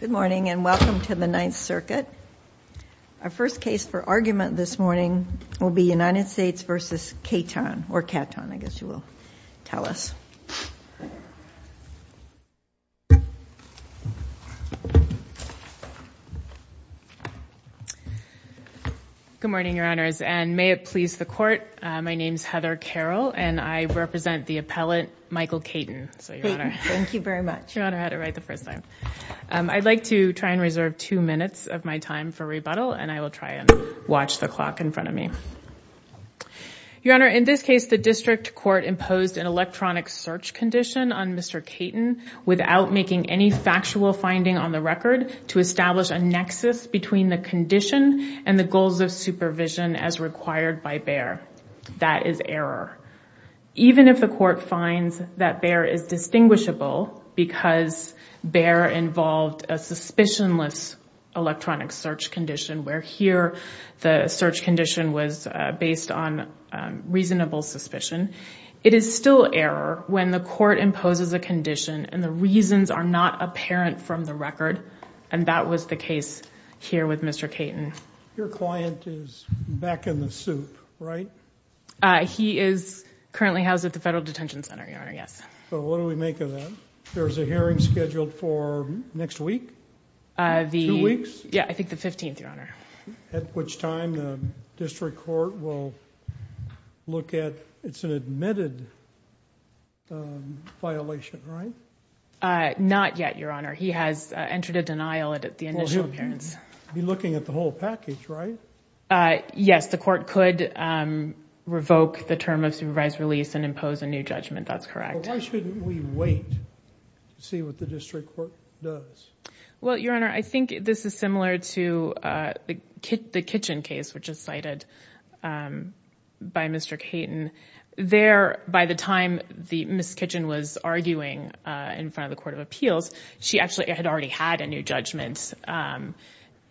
Good morning and welcome to the Ninth Circuit. Our first case for argument this morning will be United States v. Caton. Good morning, Your Honors, and may it please the Court, my name I'd like to try and reserve two minutes of my time for rebuttal and I will try and watch the clock in front of me. Your Honor, in this case the district court imposed an electronic search condition on Mr. Caton without making any factual finding on the record to establish a nexus between the condition and the goals of supervision as required by Bayer. That is error. Even if the court finds that Bayer is distinguishable because Bayer involved a suspicionless electronic search condition where here the search condition was based on reasonable suspicion, it is still error when the court imposes a condition and the reasons are not apparent from the record and that was the case here with Mr. Caton. Your client is back in the soup, right? He is currently housed at the Federal Detention Center, Your Honor, yes. So what do we make of that? There's a hearing scheduled for next week? Two weeks? Yeah, I think the 15th, Your Honor. At which time the district court will look at, it's an admitted violation, right? Not yet, Your Honor. He has entered a denial at the initial appearance. He'll be looking at the whole package, right? Yes, the court could revoke the term of supervised release and impose a new judgment, that's correct. Why shouldn't we wait to see what the district court does? Well, Your Honor, I think this is similar to the Kitchen case which is cited by Mr. Caton. There, by the time the Ms. Kitchen was arguing in front of the Court of Appeals, she actually had already had a new judgment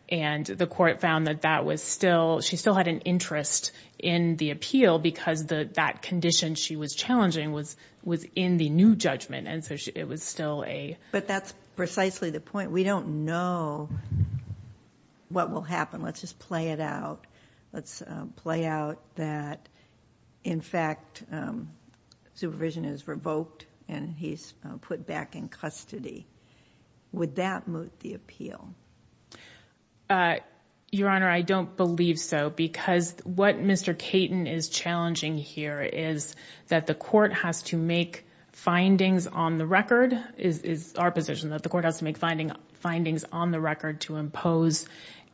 and the court found that that was still, she still had an interest in the appeal because that condition she was challenging was within the new judgment and so it was still a... But that's precisely the point. We don't know what will happen. Let's just play it out. Let's play out that, in fact, supervision is revoked and he's put back in custody. Would that moot the appeal? Your Honor, I don't believe so because what Mr. Caton is challenging here is that the court has to make findings on the record, is our position, that the court has to make findings on the record to impose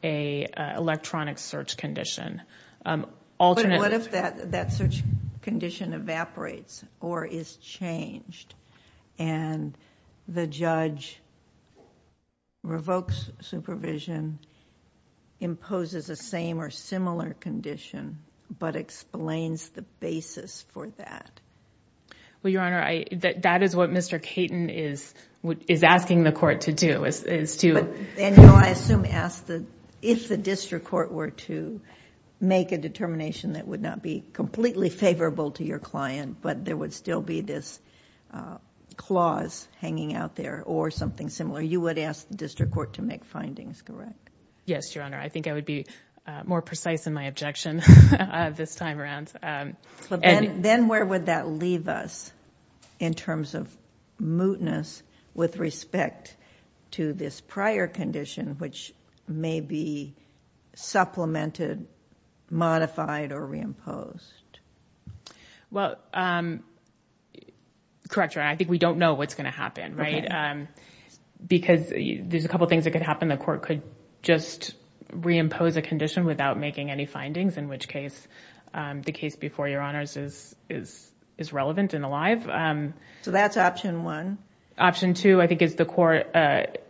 an electronic search condition. But what if that search condition evaporates or is changed and the judge revokes supervision, imposes a same or similar condition, but explains the basis for that? Well, Your Honor, that is what Mr. Caton is asking the court to do, is to... No, I assume he asked if the district court were to make a determination that would not be completely favorable to your client but there would still be this clause hanging out there or something similar. You would ask the district court to make findings, correct? Yes, Your Honor. I think I would be more precise in my objection this time around. Then where would that leave us in terms of mootness with respect to this prior condition which may be supplemented, modified, or reimposed? Well, correct, Your Honor. I think we don't know what's going to happen, right? Because there's a couple of things that could happen. The court could just reimpose a condition without making any findings, in which case the case before Your Honors is relevant and alive. So that's option one? Option two, I think, is the court...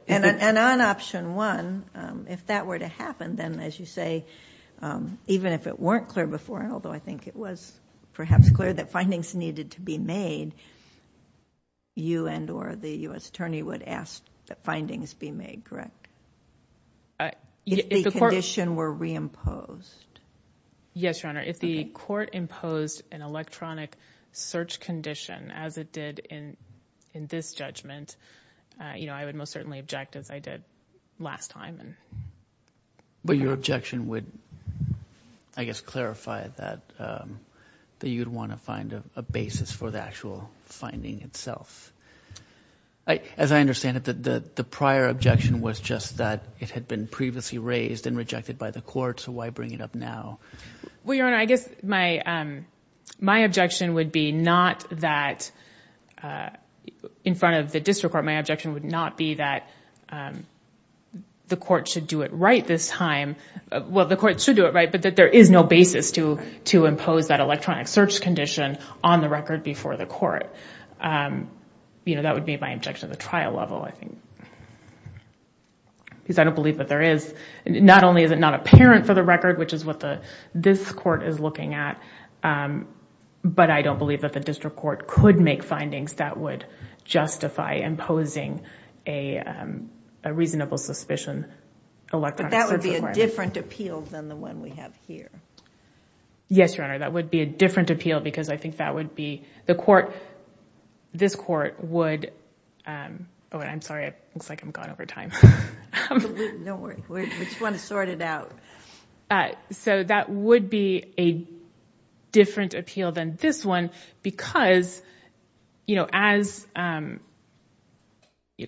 And on option one, if that were to happen, then as you say, even if it weren't clear before and although I think it was perhaps clear that findings needed to be made, you and or the U.S. attorney would ask that findings be made, correct? If the condition were reimposed. Yes, Your Honor. If the court imposed an electronic search condition as it did in this judgment, I would most certainly object as I did last time. But your objection would, I guess, clarify that you'd want to find a basis for the actual finding itself. As I understand it, the prior objection was just that it had been previously raised and rejected by the court, so why bring it up now? Well, Your Honor, I guess my objection would be not that... in front of the court should do it right this time... well, the court should do it right, but that there is no basis to impose that electronic search condition on the record before the court. You know, that would be my objection at the trial level, I think, because I don't believe that there is... not only is it not apparent for the record, which is what this court is looking at, but I don't believe that the district court could make findings that would justify imposing a reasonable suspicion electronic search requirement. But that would be a different appeal than the one we have here. Yes, Your Honor, that would be a different appeal because I think that would be... the court... this court would... oh, I'm sorry, it looks like I'm gone over time. Don't worry. We just want to sort it out. So that would be a different appeal than this one because, you know, as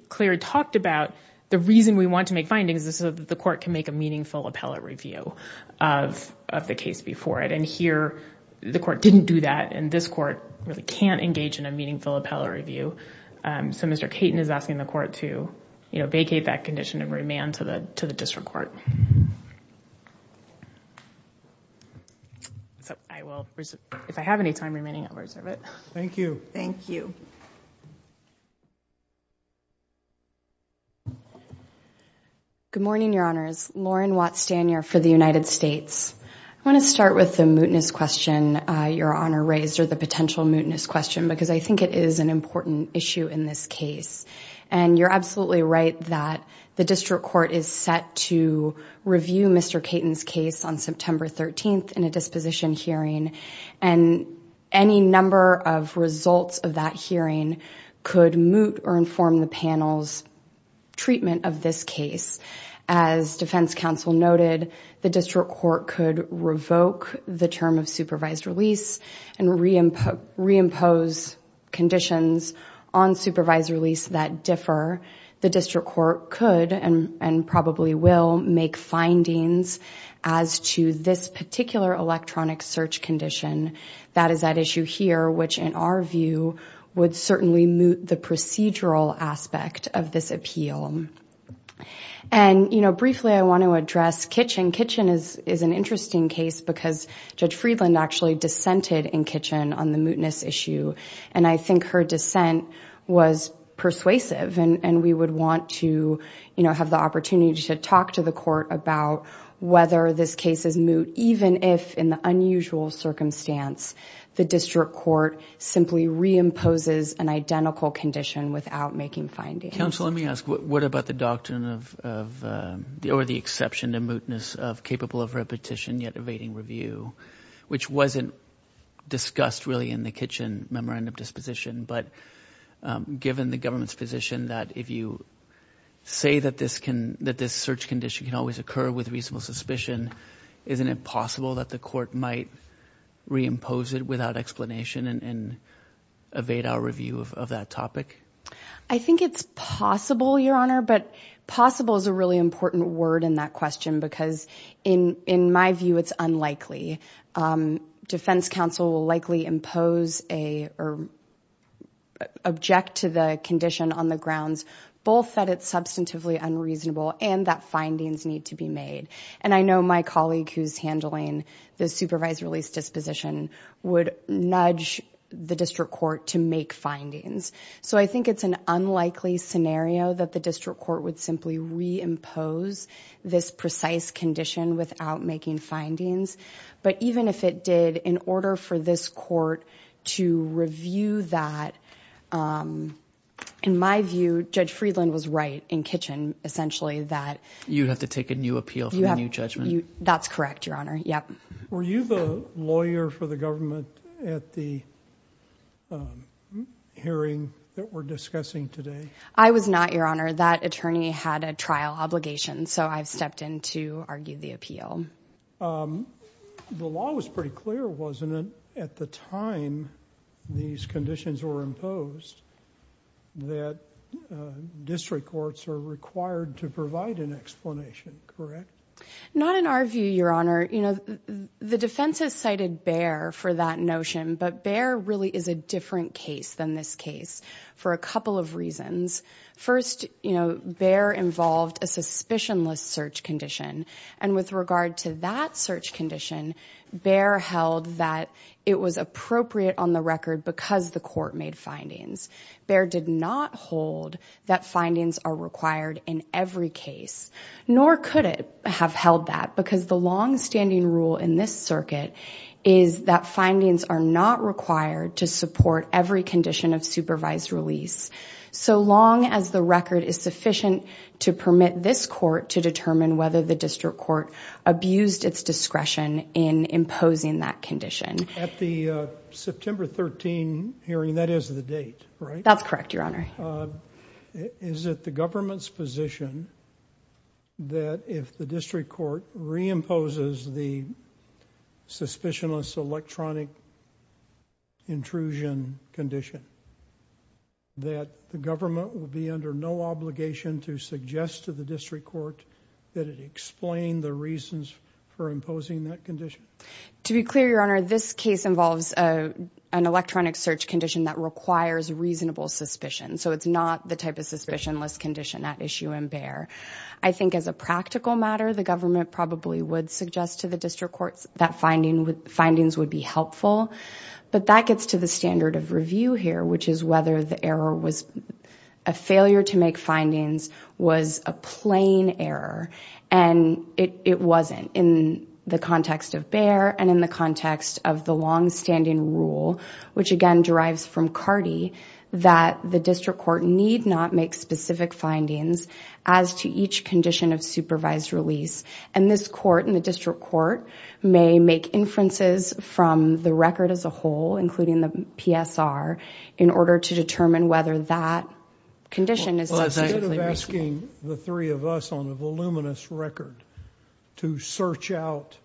Clare talked about, the reason we want to make findings is so that the court can make a meaningful appellate review of the case before it, and here the court didn't do that, and this court really can't engage in a meaningful appellate review. So Mr. Caton is asking the court to, you know, vacate that condition and give it to the district court. So I will... if I have any time remaining, I'll reserve it. Thank you. Thank you. Good morning, Your Honors. Lauren Watt Stanier for the United States. I want to start with the mootness question Your Honor raised, or the potential mootness question, because I think it is an important issue in this case, and you're absolutely right that the district court is set to review Mr. Caton's case on September 13th in a disposition hearing, and any number of results of that hearing could moot or inform the panel's treatment of this case. As defense counsel noted, the district court could revoke the term of supervised release and reimpose conditions on supervised release that differ. The district court could and probably will make findings as to this particular electronic search condition. That is at issue here, which in our view would certainly moot the procedural aspect of this appeal. And, you know, briefly I want to address Kitchen. Kitchen is an interesting case because Judge Friedland actually dissented in Kitchen on the mootness issue, and I think her dissent was persuasive. And we would want to, you know, have the opportunity to talk to the court about whether this case is moot, even if in the unusual circumstance the district court simply reimposes an identical condition without making findings. Counsel, let me ask, what about the doctrine of, or the exception to mootness of capable of repetition yet evading review, which wasn't discussed really in the Kitchen memorandum disposition, but given the government's position that if you say that this search condition can always occur with reasonable suspicion, isn't it possible that the court might reimpose it without explanation and evade our review of that topic? I think it's possible, Your Honor, but possible is a really important word in that question because in my view it's unlikely. Defense counsel will likely impose or object to the condition on the grounds both that it's substantively unreasonable and that findings need to be made. And I know my colleague who's handling the supervised release disposition would nudge the district court to make findings. So I think it's an unlikely scenario that the district court would simply reimpose this precise condition without making findings. But even if it did, in order for this court to review that, in my view, Judge Friedland was right in Kitchen essentially that... You'd have to take a new appeal from a new judgment. That's correct, Your Honor. Were you the lawyer for the government at the hearing that we're discussing today? I was not, Your Honor. That attorney had a trial obligation, so I've stepped in to argue the appeal. The law was pretty clear, wasn't it, at the time these conditions were imposed that district courts are required to provide an explanation, correct? Not in our view, Your Honor. The defense has cited Baer for that notion, but Baer really is a different case than this case for a couple of reasons. First, Baer involved a suspicionless search condition, and with regard to that search condition, Baer held that it was appropriate on the record because the court made findings. Baer did not hold that findings are required in every case, nor could it have held that because the longstanding rule in this circuit is that findings are not required to support every condition of supervised release. So long as the record is sufficient to permit this court to determine whether the district court abused its discretion in imposing that condition. At the September 13 hearing, that is the date, right? That's correct, Your Honor. Is it the government's position that if the district court reimposes the condition, that the government will be under no obligation to suggest to the district court that it explain the reasons for imposing that condition? To be clear, Your Honor, this case involves an electronic search condition that requires reasonable suspicion, so it's not the type of suspicionless condition at issue in Baer. I think as a practical matter, the government probably would suggest to the district courts that findings would be helpful, but that gets to the standard of review here, which is whether the error was a failure to make findings was a plain error, and it wasn't. In the context of Baer, and in the context of the longstanding rule, which again derives from Cardi, that the district court need not make specific findings as to each condition of supervised release. And this court and the district court may make inferences from the record as a whole, including the PSR, in order to determine whether that condition is technically reasonable. Well, instead of asking the three of us on a voluminous record to search out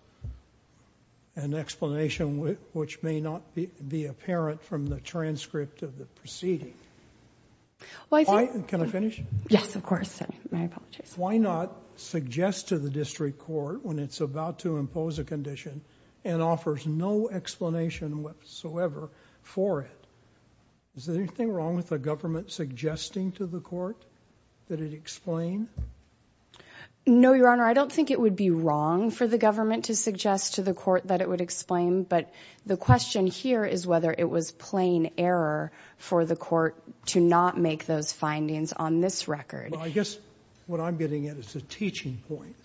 an explanation which may not be apparent from the transcript of the proceeding... Can I finish? Yes, of course. I apologize. Why not suggest to the district court when it's about to impose a condition and offers no explanation whatsoever for it? Is there anything wrong with the government suggesting to the court that it explain? No, Your Honor. I don't think it would be wrong for the government to suggest to the court that it would explain, but the question here is whether it was plain error for the court to not make those findings on this record. Well, I guess what I'm getting at is a teaching point,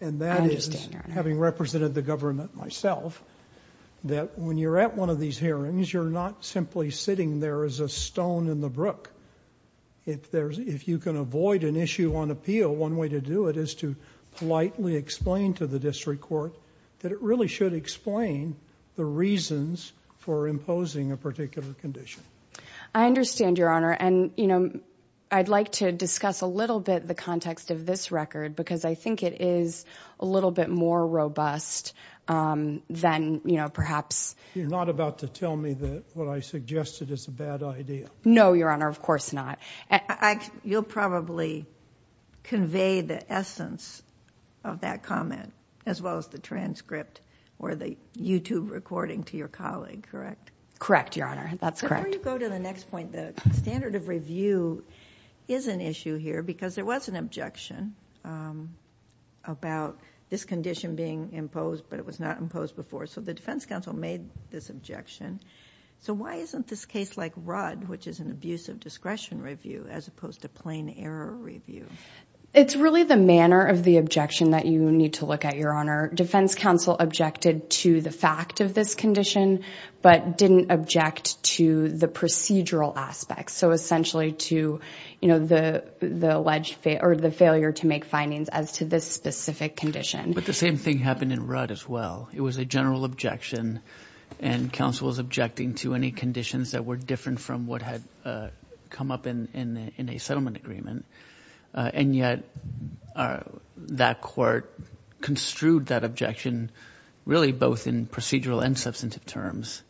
and that is... I understand, Your Honor. I said to the government myself that when you're at one of these hearings, you're not simply sitting there as a stone in the brook. If you can avoid an issue on appeal, one way to do it is to politely explain to the district court that it really should explain the reasons for imposing a particular condition. I understand, Your Honor. I'd like to discuss a little bit the context of this record because I think it is a little bit more robust than perhaps... You're not about to tell me that what I suggested is a bad idea. No, Your Honor. Of course not. You'll probably convey the essence of that comment as well as the transcript or the YouTube recording to your colleague, correct? Correct, Your Honor. That's correct. Before you go to the next point, the standard of review is an issue here because there was an objection about this condition being imposed, but it was not imposed before. The defense counsel made this objection. Why isn't this case like Rudd, which is an abusive discretion review, as opposed to plain error review? It's really the manner of the objection that you need to look at, Your Honor. Defense counsel objected to the fact of this condition, but didn't object to the procedural aspects, so essentially to the failure to make findings as to this specific condition. But the same thing happened in Rudd as well. It was a general objection, and counsel was objecting to any conditions that were different from what had come up in a settlement agreement, and yet that court construed that objection really both in procedural and substantive terms.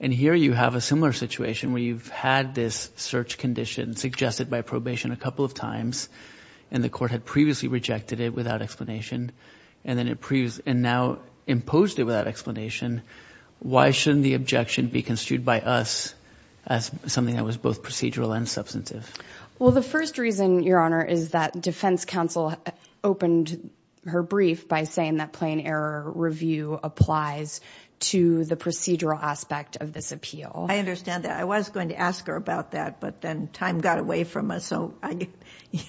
Here you have a similar situation where you've had this search condition suggested by probation a couple of times, and the court had previously rejected it without explanation, and now imposed it without explanation. Why shouldn't the objection be construed by us as something that was both procedural and substantive? Well, the first reason, Your Honor, is that defense counsel opened her brief by saying that plain error review applies to the procedural aspect of this appeal. I understand that. I was going to ask her about that, but then time got away from us, so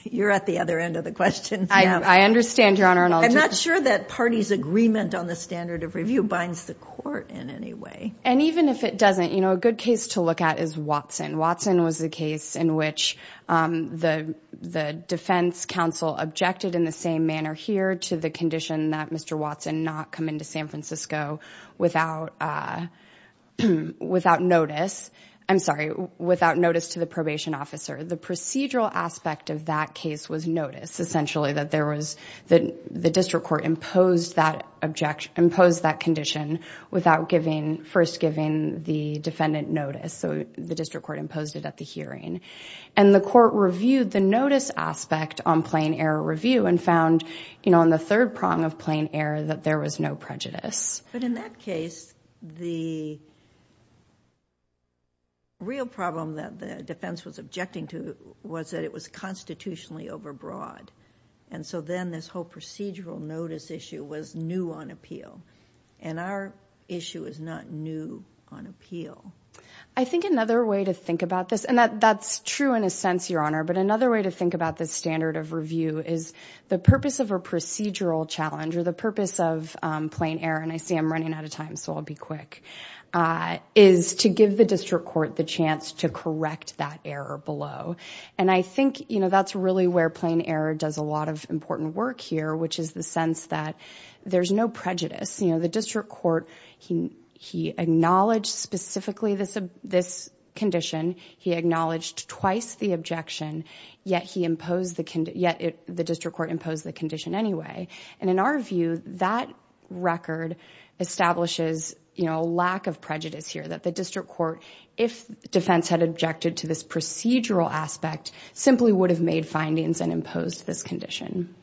you're at the other end of the question. I understand, Your Honor. I'm not sure that parties' agreement on the standard of review binds the court in any way. And even if it doesn't, you know, a good case to look at is Watson. Watson was the case in which the defense counsel objected in the same manner here to the condition that Mr. Watson not come into San Francisco without notice to the probation officer. The procedural aspect of that case was notice, essentially that the district court imposed that condition without first giving the defendant notice. So the district court imposed it at the hearing. And the court reviewed the notice aspect on plain error review and found, you know, on the third prong of plain error, that there was no prejudice. But in that case, the real problem that the defense was objecting to was that it was constitutionally overbroad. And so then this whole procedural notice issue was new on appeal. And our issue is not new on appeal. I think another way to think about this, and that's true in a sense, Your Honor, but another way to think about this standard of review is the purpose of a procedural challenge or the purpose of plain error, and I see I'm running out of time so I'll be quick, is to give the district court the chance to correct that error below. And I think, you know, that's really where plain error does a lot of important work here, which is the sense that there's no prejudice. You know, the district court, he acknowledged specifically this condition. He acknowledged twice the objection, yet he imposed the condition, yet the district court imposed the condition anyway. And in our view, that record establishes, you know, lack of prejudice here, that the district court, if defense had objected to this procedural aspect, simply would have made findings and imposed this condition.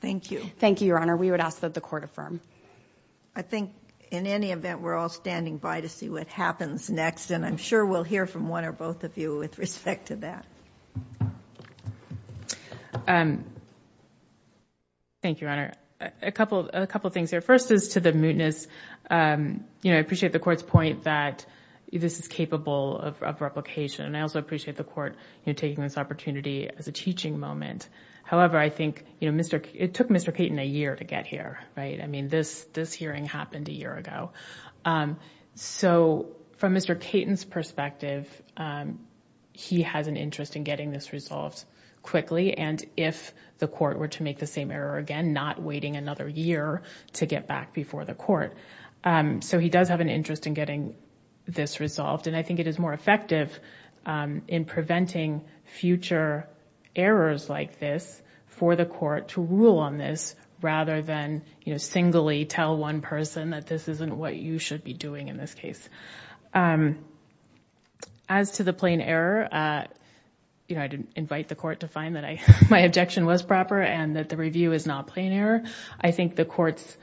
Thank you. Thank you, Your Honor. We would ask that the court affirm. I think in any event, we're all standing by to see what happens next, and I'm sure we'll hear from one or both of you with respect to that. Thank you, Your Honor. A couple of things here. First is to the mootness. You know, I appreciate the court's point that this is capable of replication, and I also appreciate the court taking this opportunity as a teaching moment. However, I think, you know, it took Mr. Caton a year to get here, right? I mean, this hearing happened a year ago. So from Mr. Caton's perspective, he has an interest in getting this resolved quickly, and if the court were to make the same error again, not waiting another year to get back before the court. So he does have an interest in getting this resolved, and I think it is more effective in preventing future errors like this for the court to rule on this rather than, you know, what you should be doing in this case. As to the plain error, you know, I didn't invite the court to find that my objection was proper and that the review is not plain error. I think the court's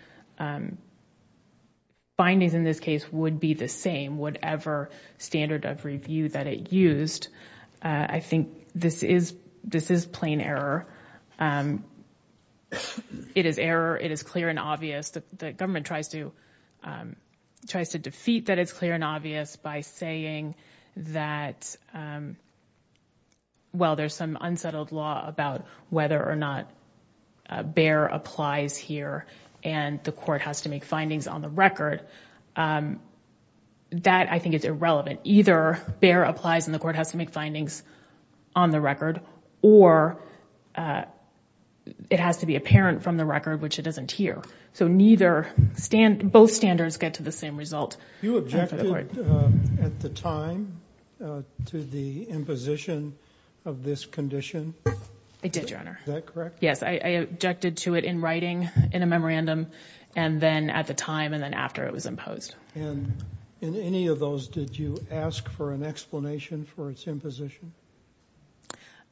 findings in this case would be the same whatever standard of review that it used. I think this is plain error. It is error. It is clear and obvious. The government tries to defeat that it's clear and obvious by saying that, well, there's some unsettled law about whether or not Bayer applies here and the court has to make findings on the record. That, I think, is irrelevant. Either Bayer applies and the court has to make findings on the record or it has to be apparent from the record, which it doesn't here. So both standards get to the same result. You objected at the time to the imposition of this condition? I did, Your Honor. Is that correct? Yes, I objected to it in writing in a memorandum and then at the time and then after it was imposed. And in any of those, did you ask for an explanation for its imposition?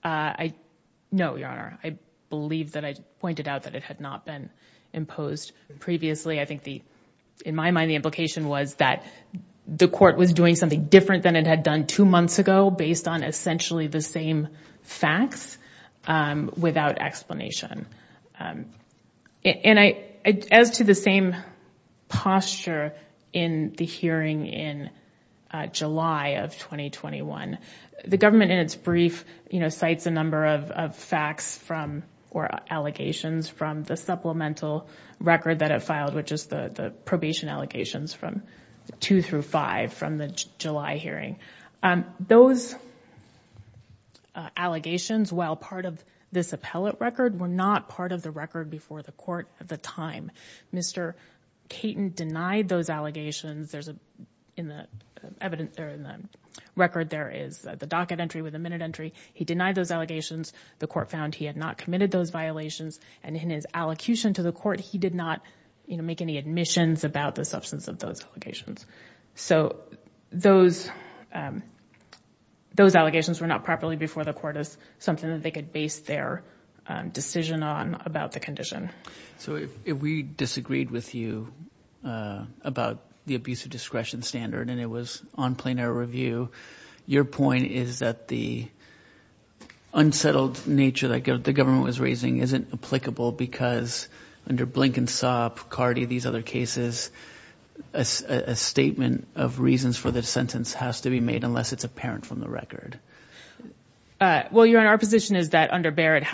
No, Your Honor. I believe that I pointed out that it had not been imposed previously. I think, in my mind, the implication was that the court was doing something different than it had done two months ago based on essentially the same facts without explanation. And as to the same posture in the hearing in July of 2021, the government, in its brief, cites a number of facts or allegations from the supplemental record that it filed, which is the probation allegations from 2 through 5 from the July hearing. Those allegations, while part of this appellate record, were not part of the record before the court at the time. Mr. Caton denied those allegations. In the record, there is the docket entry with the minute entry. He denied those allegations. The court found he had not committed those violations. And in his allocution to the court, he did not make any admissions about the substance of those allegations. So those allegations were not properly before the court as something that they could base their decision on about the condition. So if we disagreed with you about the abuse of discretion standard and it was on plenary review, your point is that the unsettled nature that the government was raising isn't applicable because under Blinken, Sopp, Cardi, these other cases, a statement of reasons for the sentence has to be made unless it's apparent from the record. Well, Your Honor, our position is that under Barrett,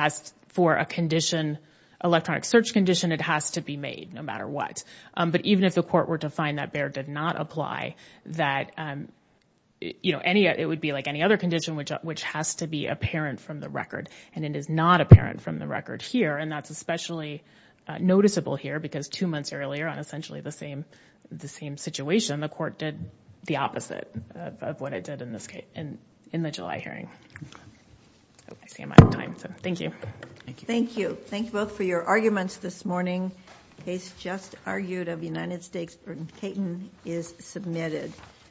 for a condition, electronic search condition, it has to be made no matter what. But even if the court were to find that Barrett did not apply, that it would be like any other condition which has to be apparent from the record. And it is not apparent from the record here. And that's especially noticeable here because two months earlier, on essentially the same situation, the court did the opposite of what it did in the July hearing. I see I'm out of time. So thank you. Thank you. Thank you both for your arguments this morning. The case just argued of United States v. Caton is submitted.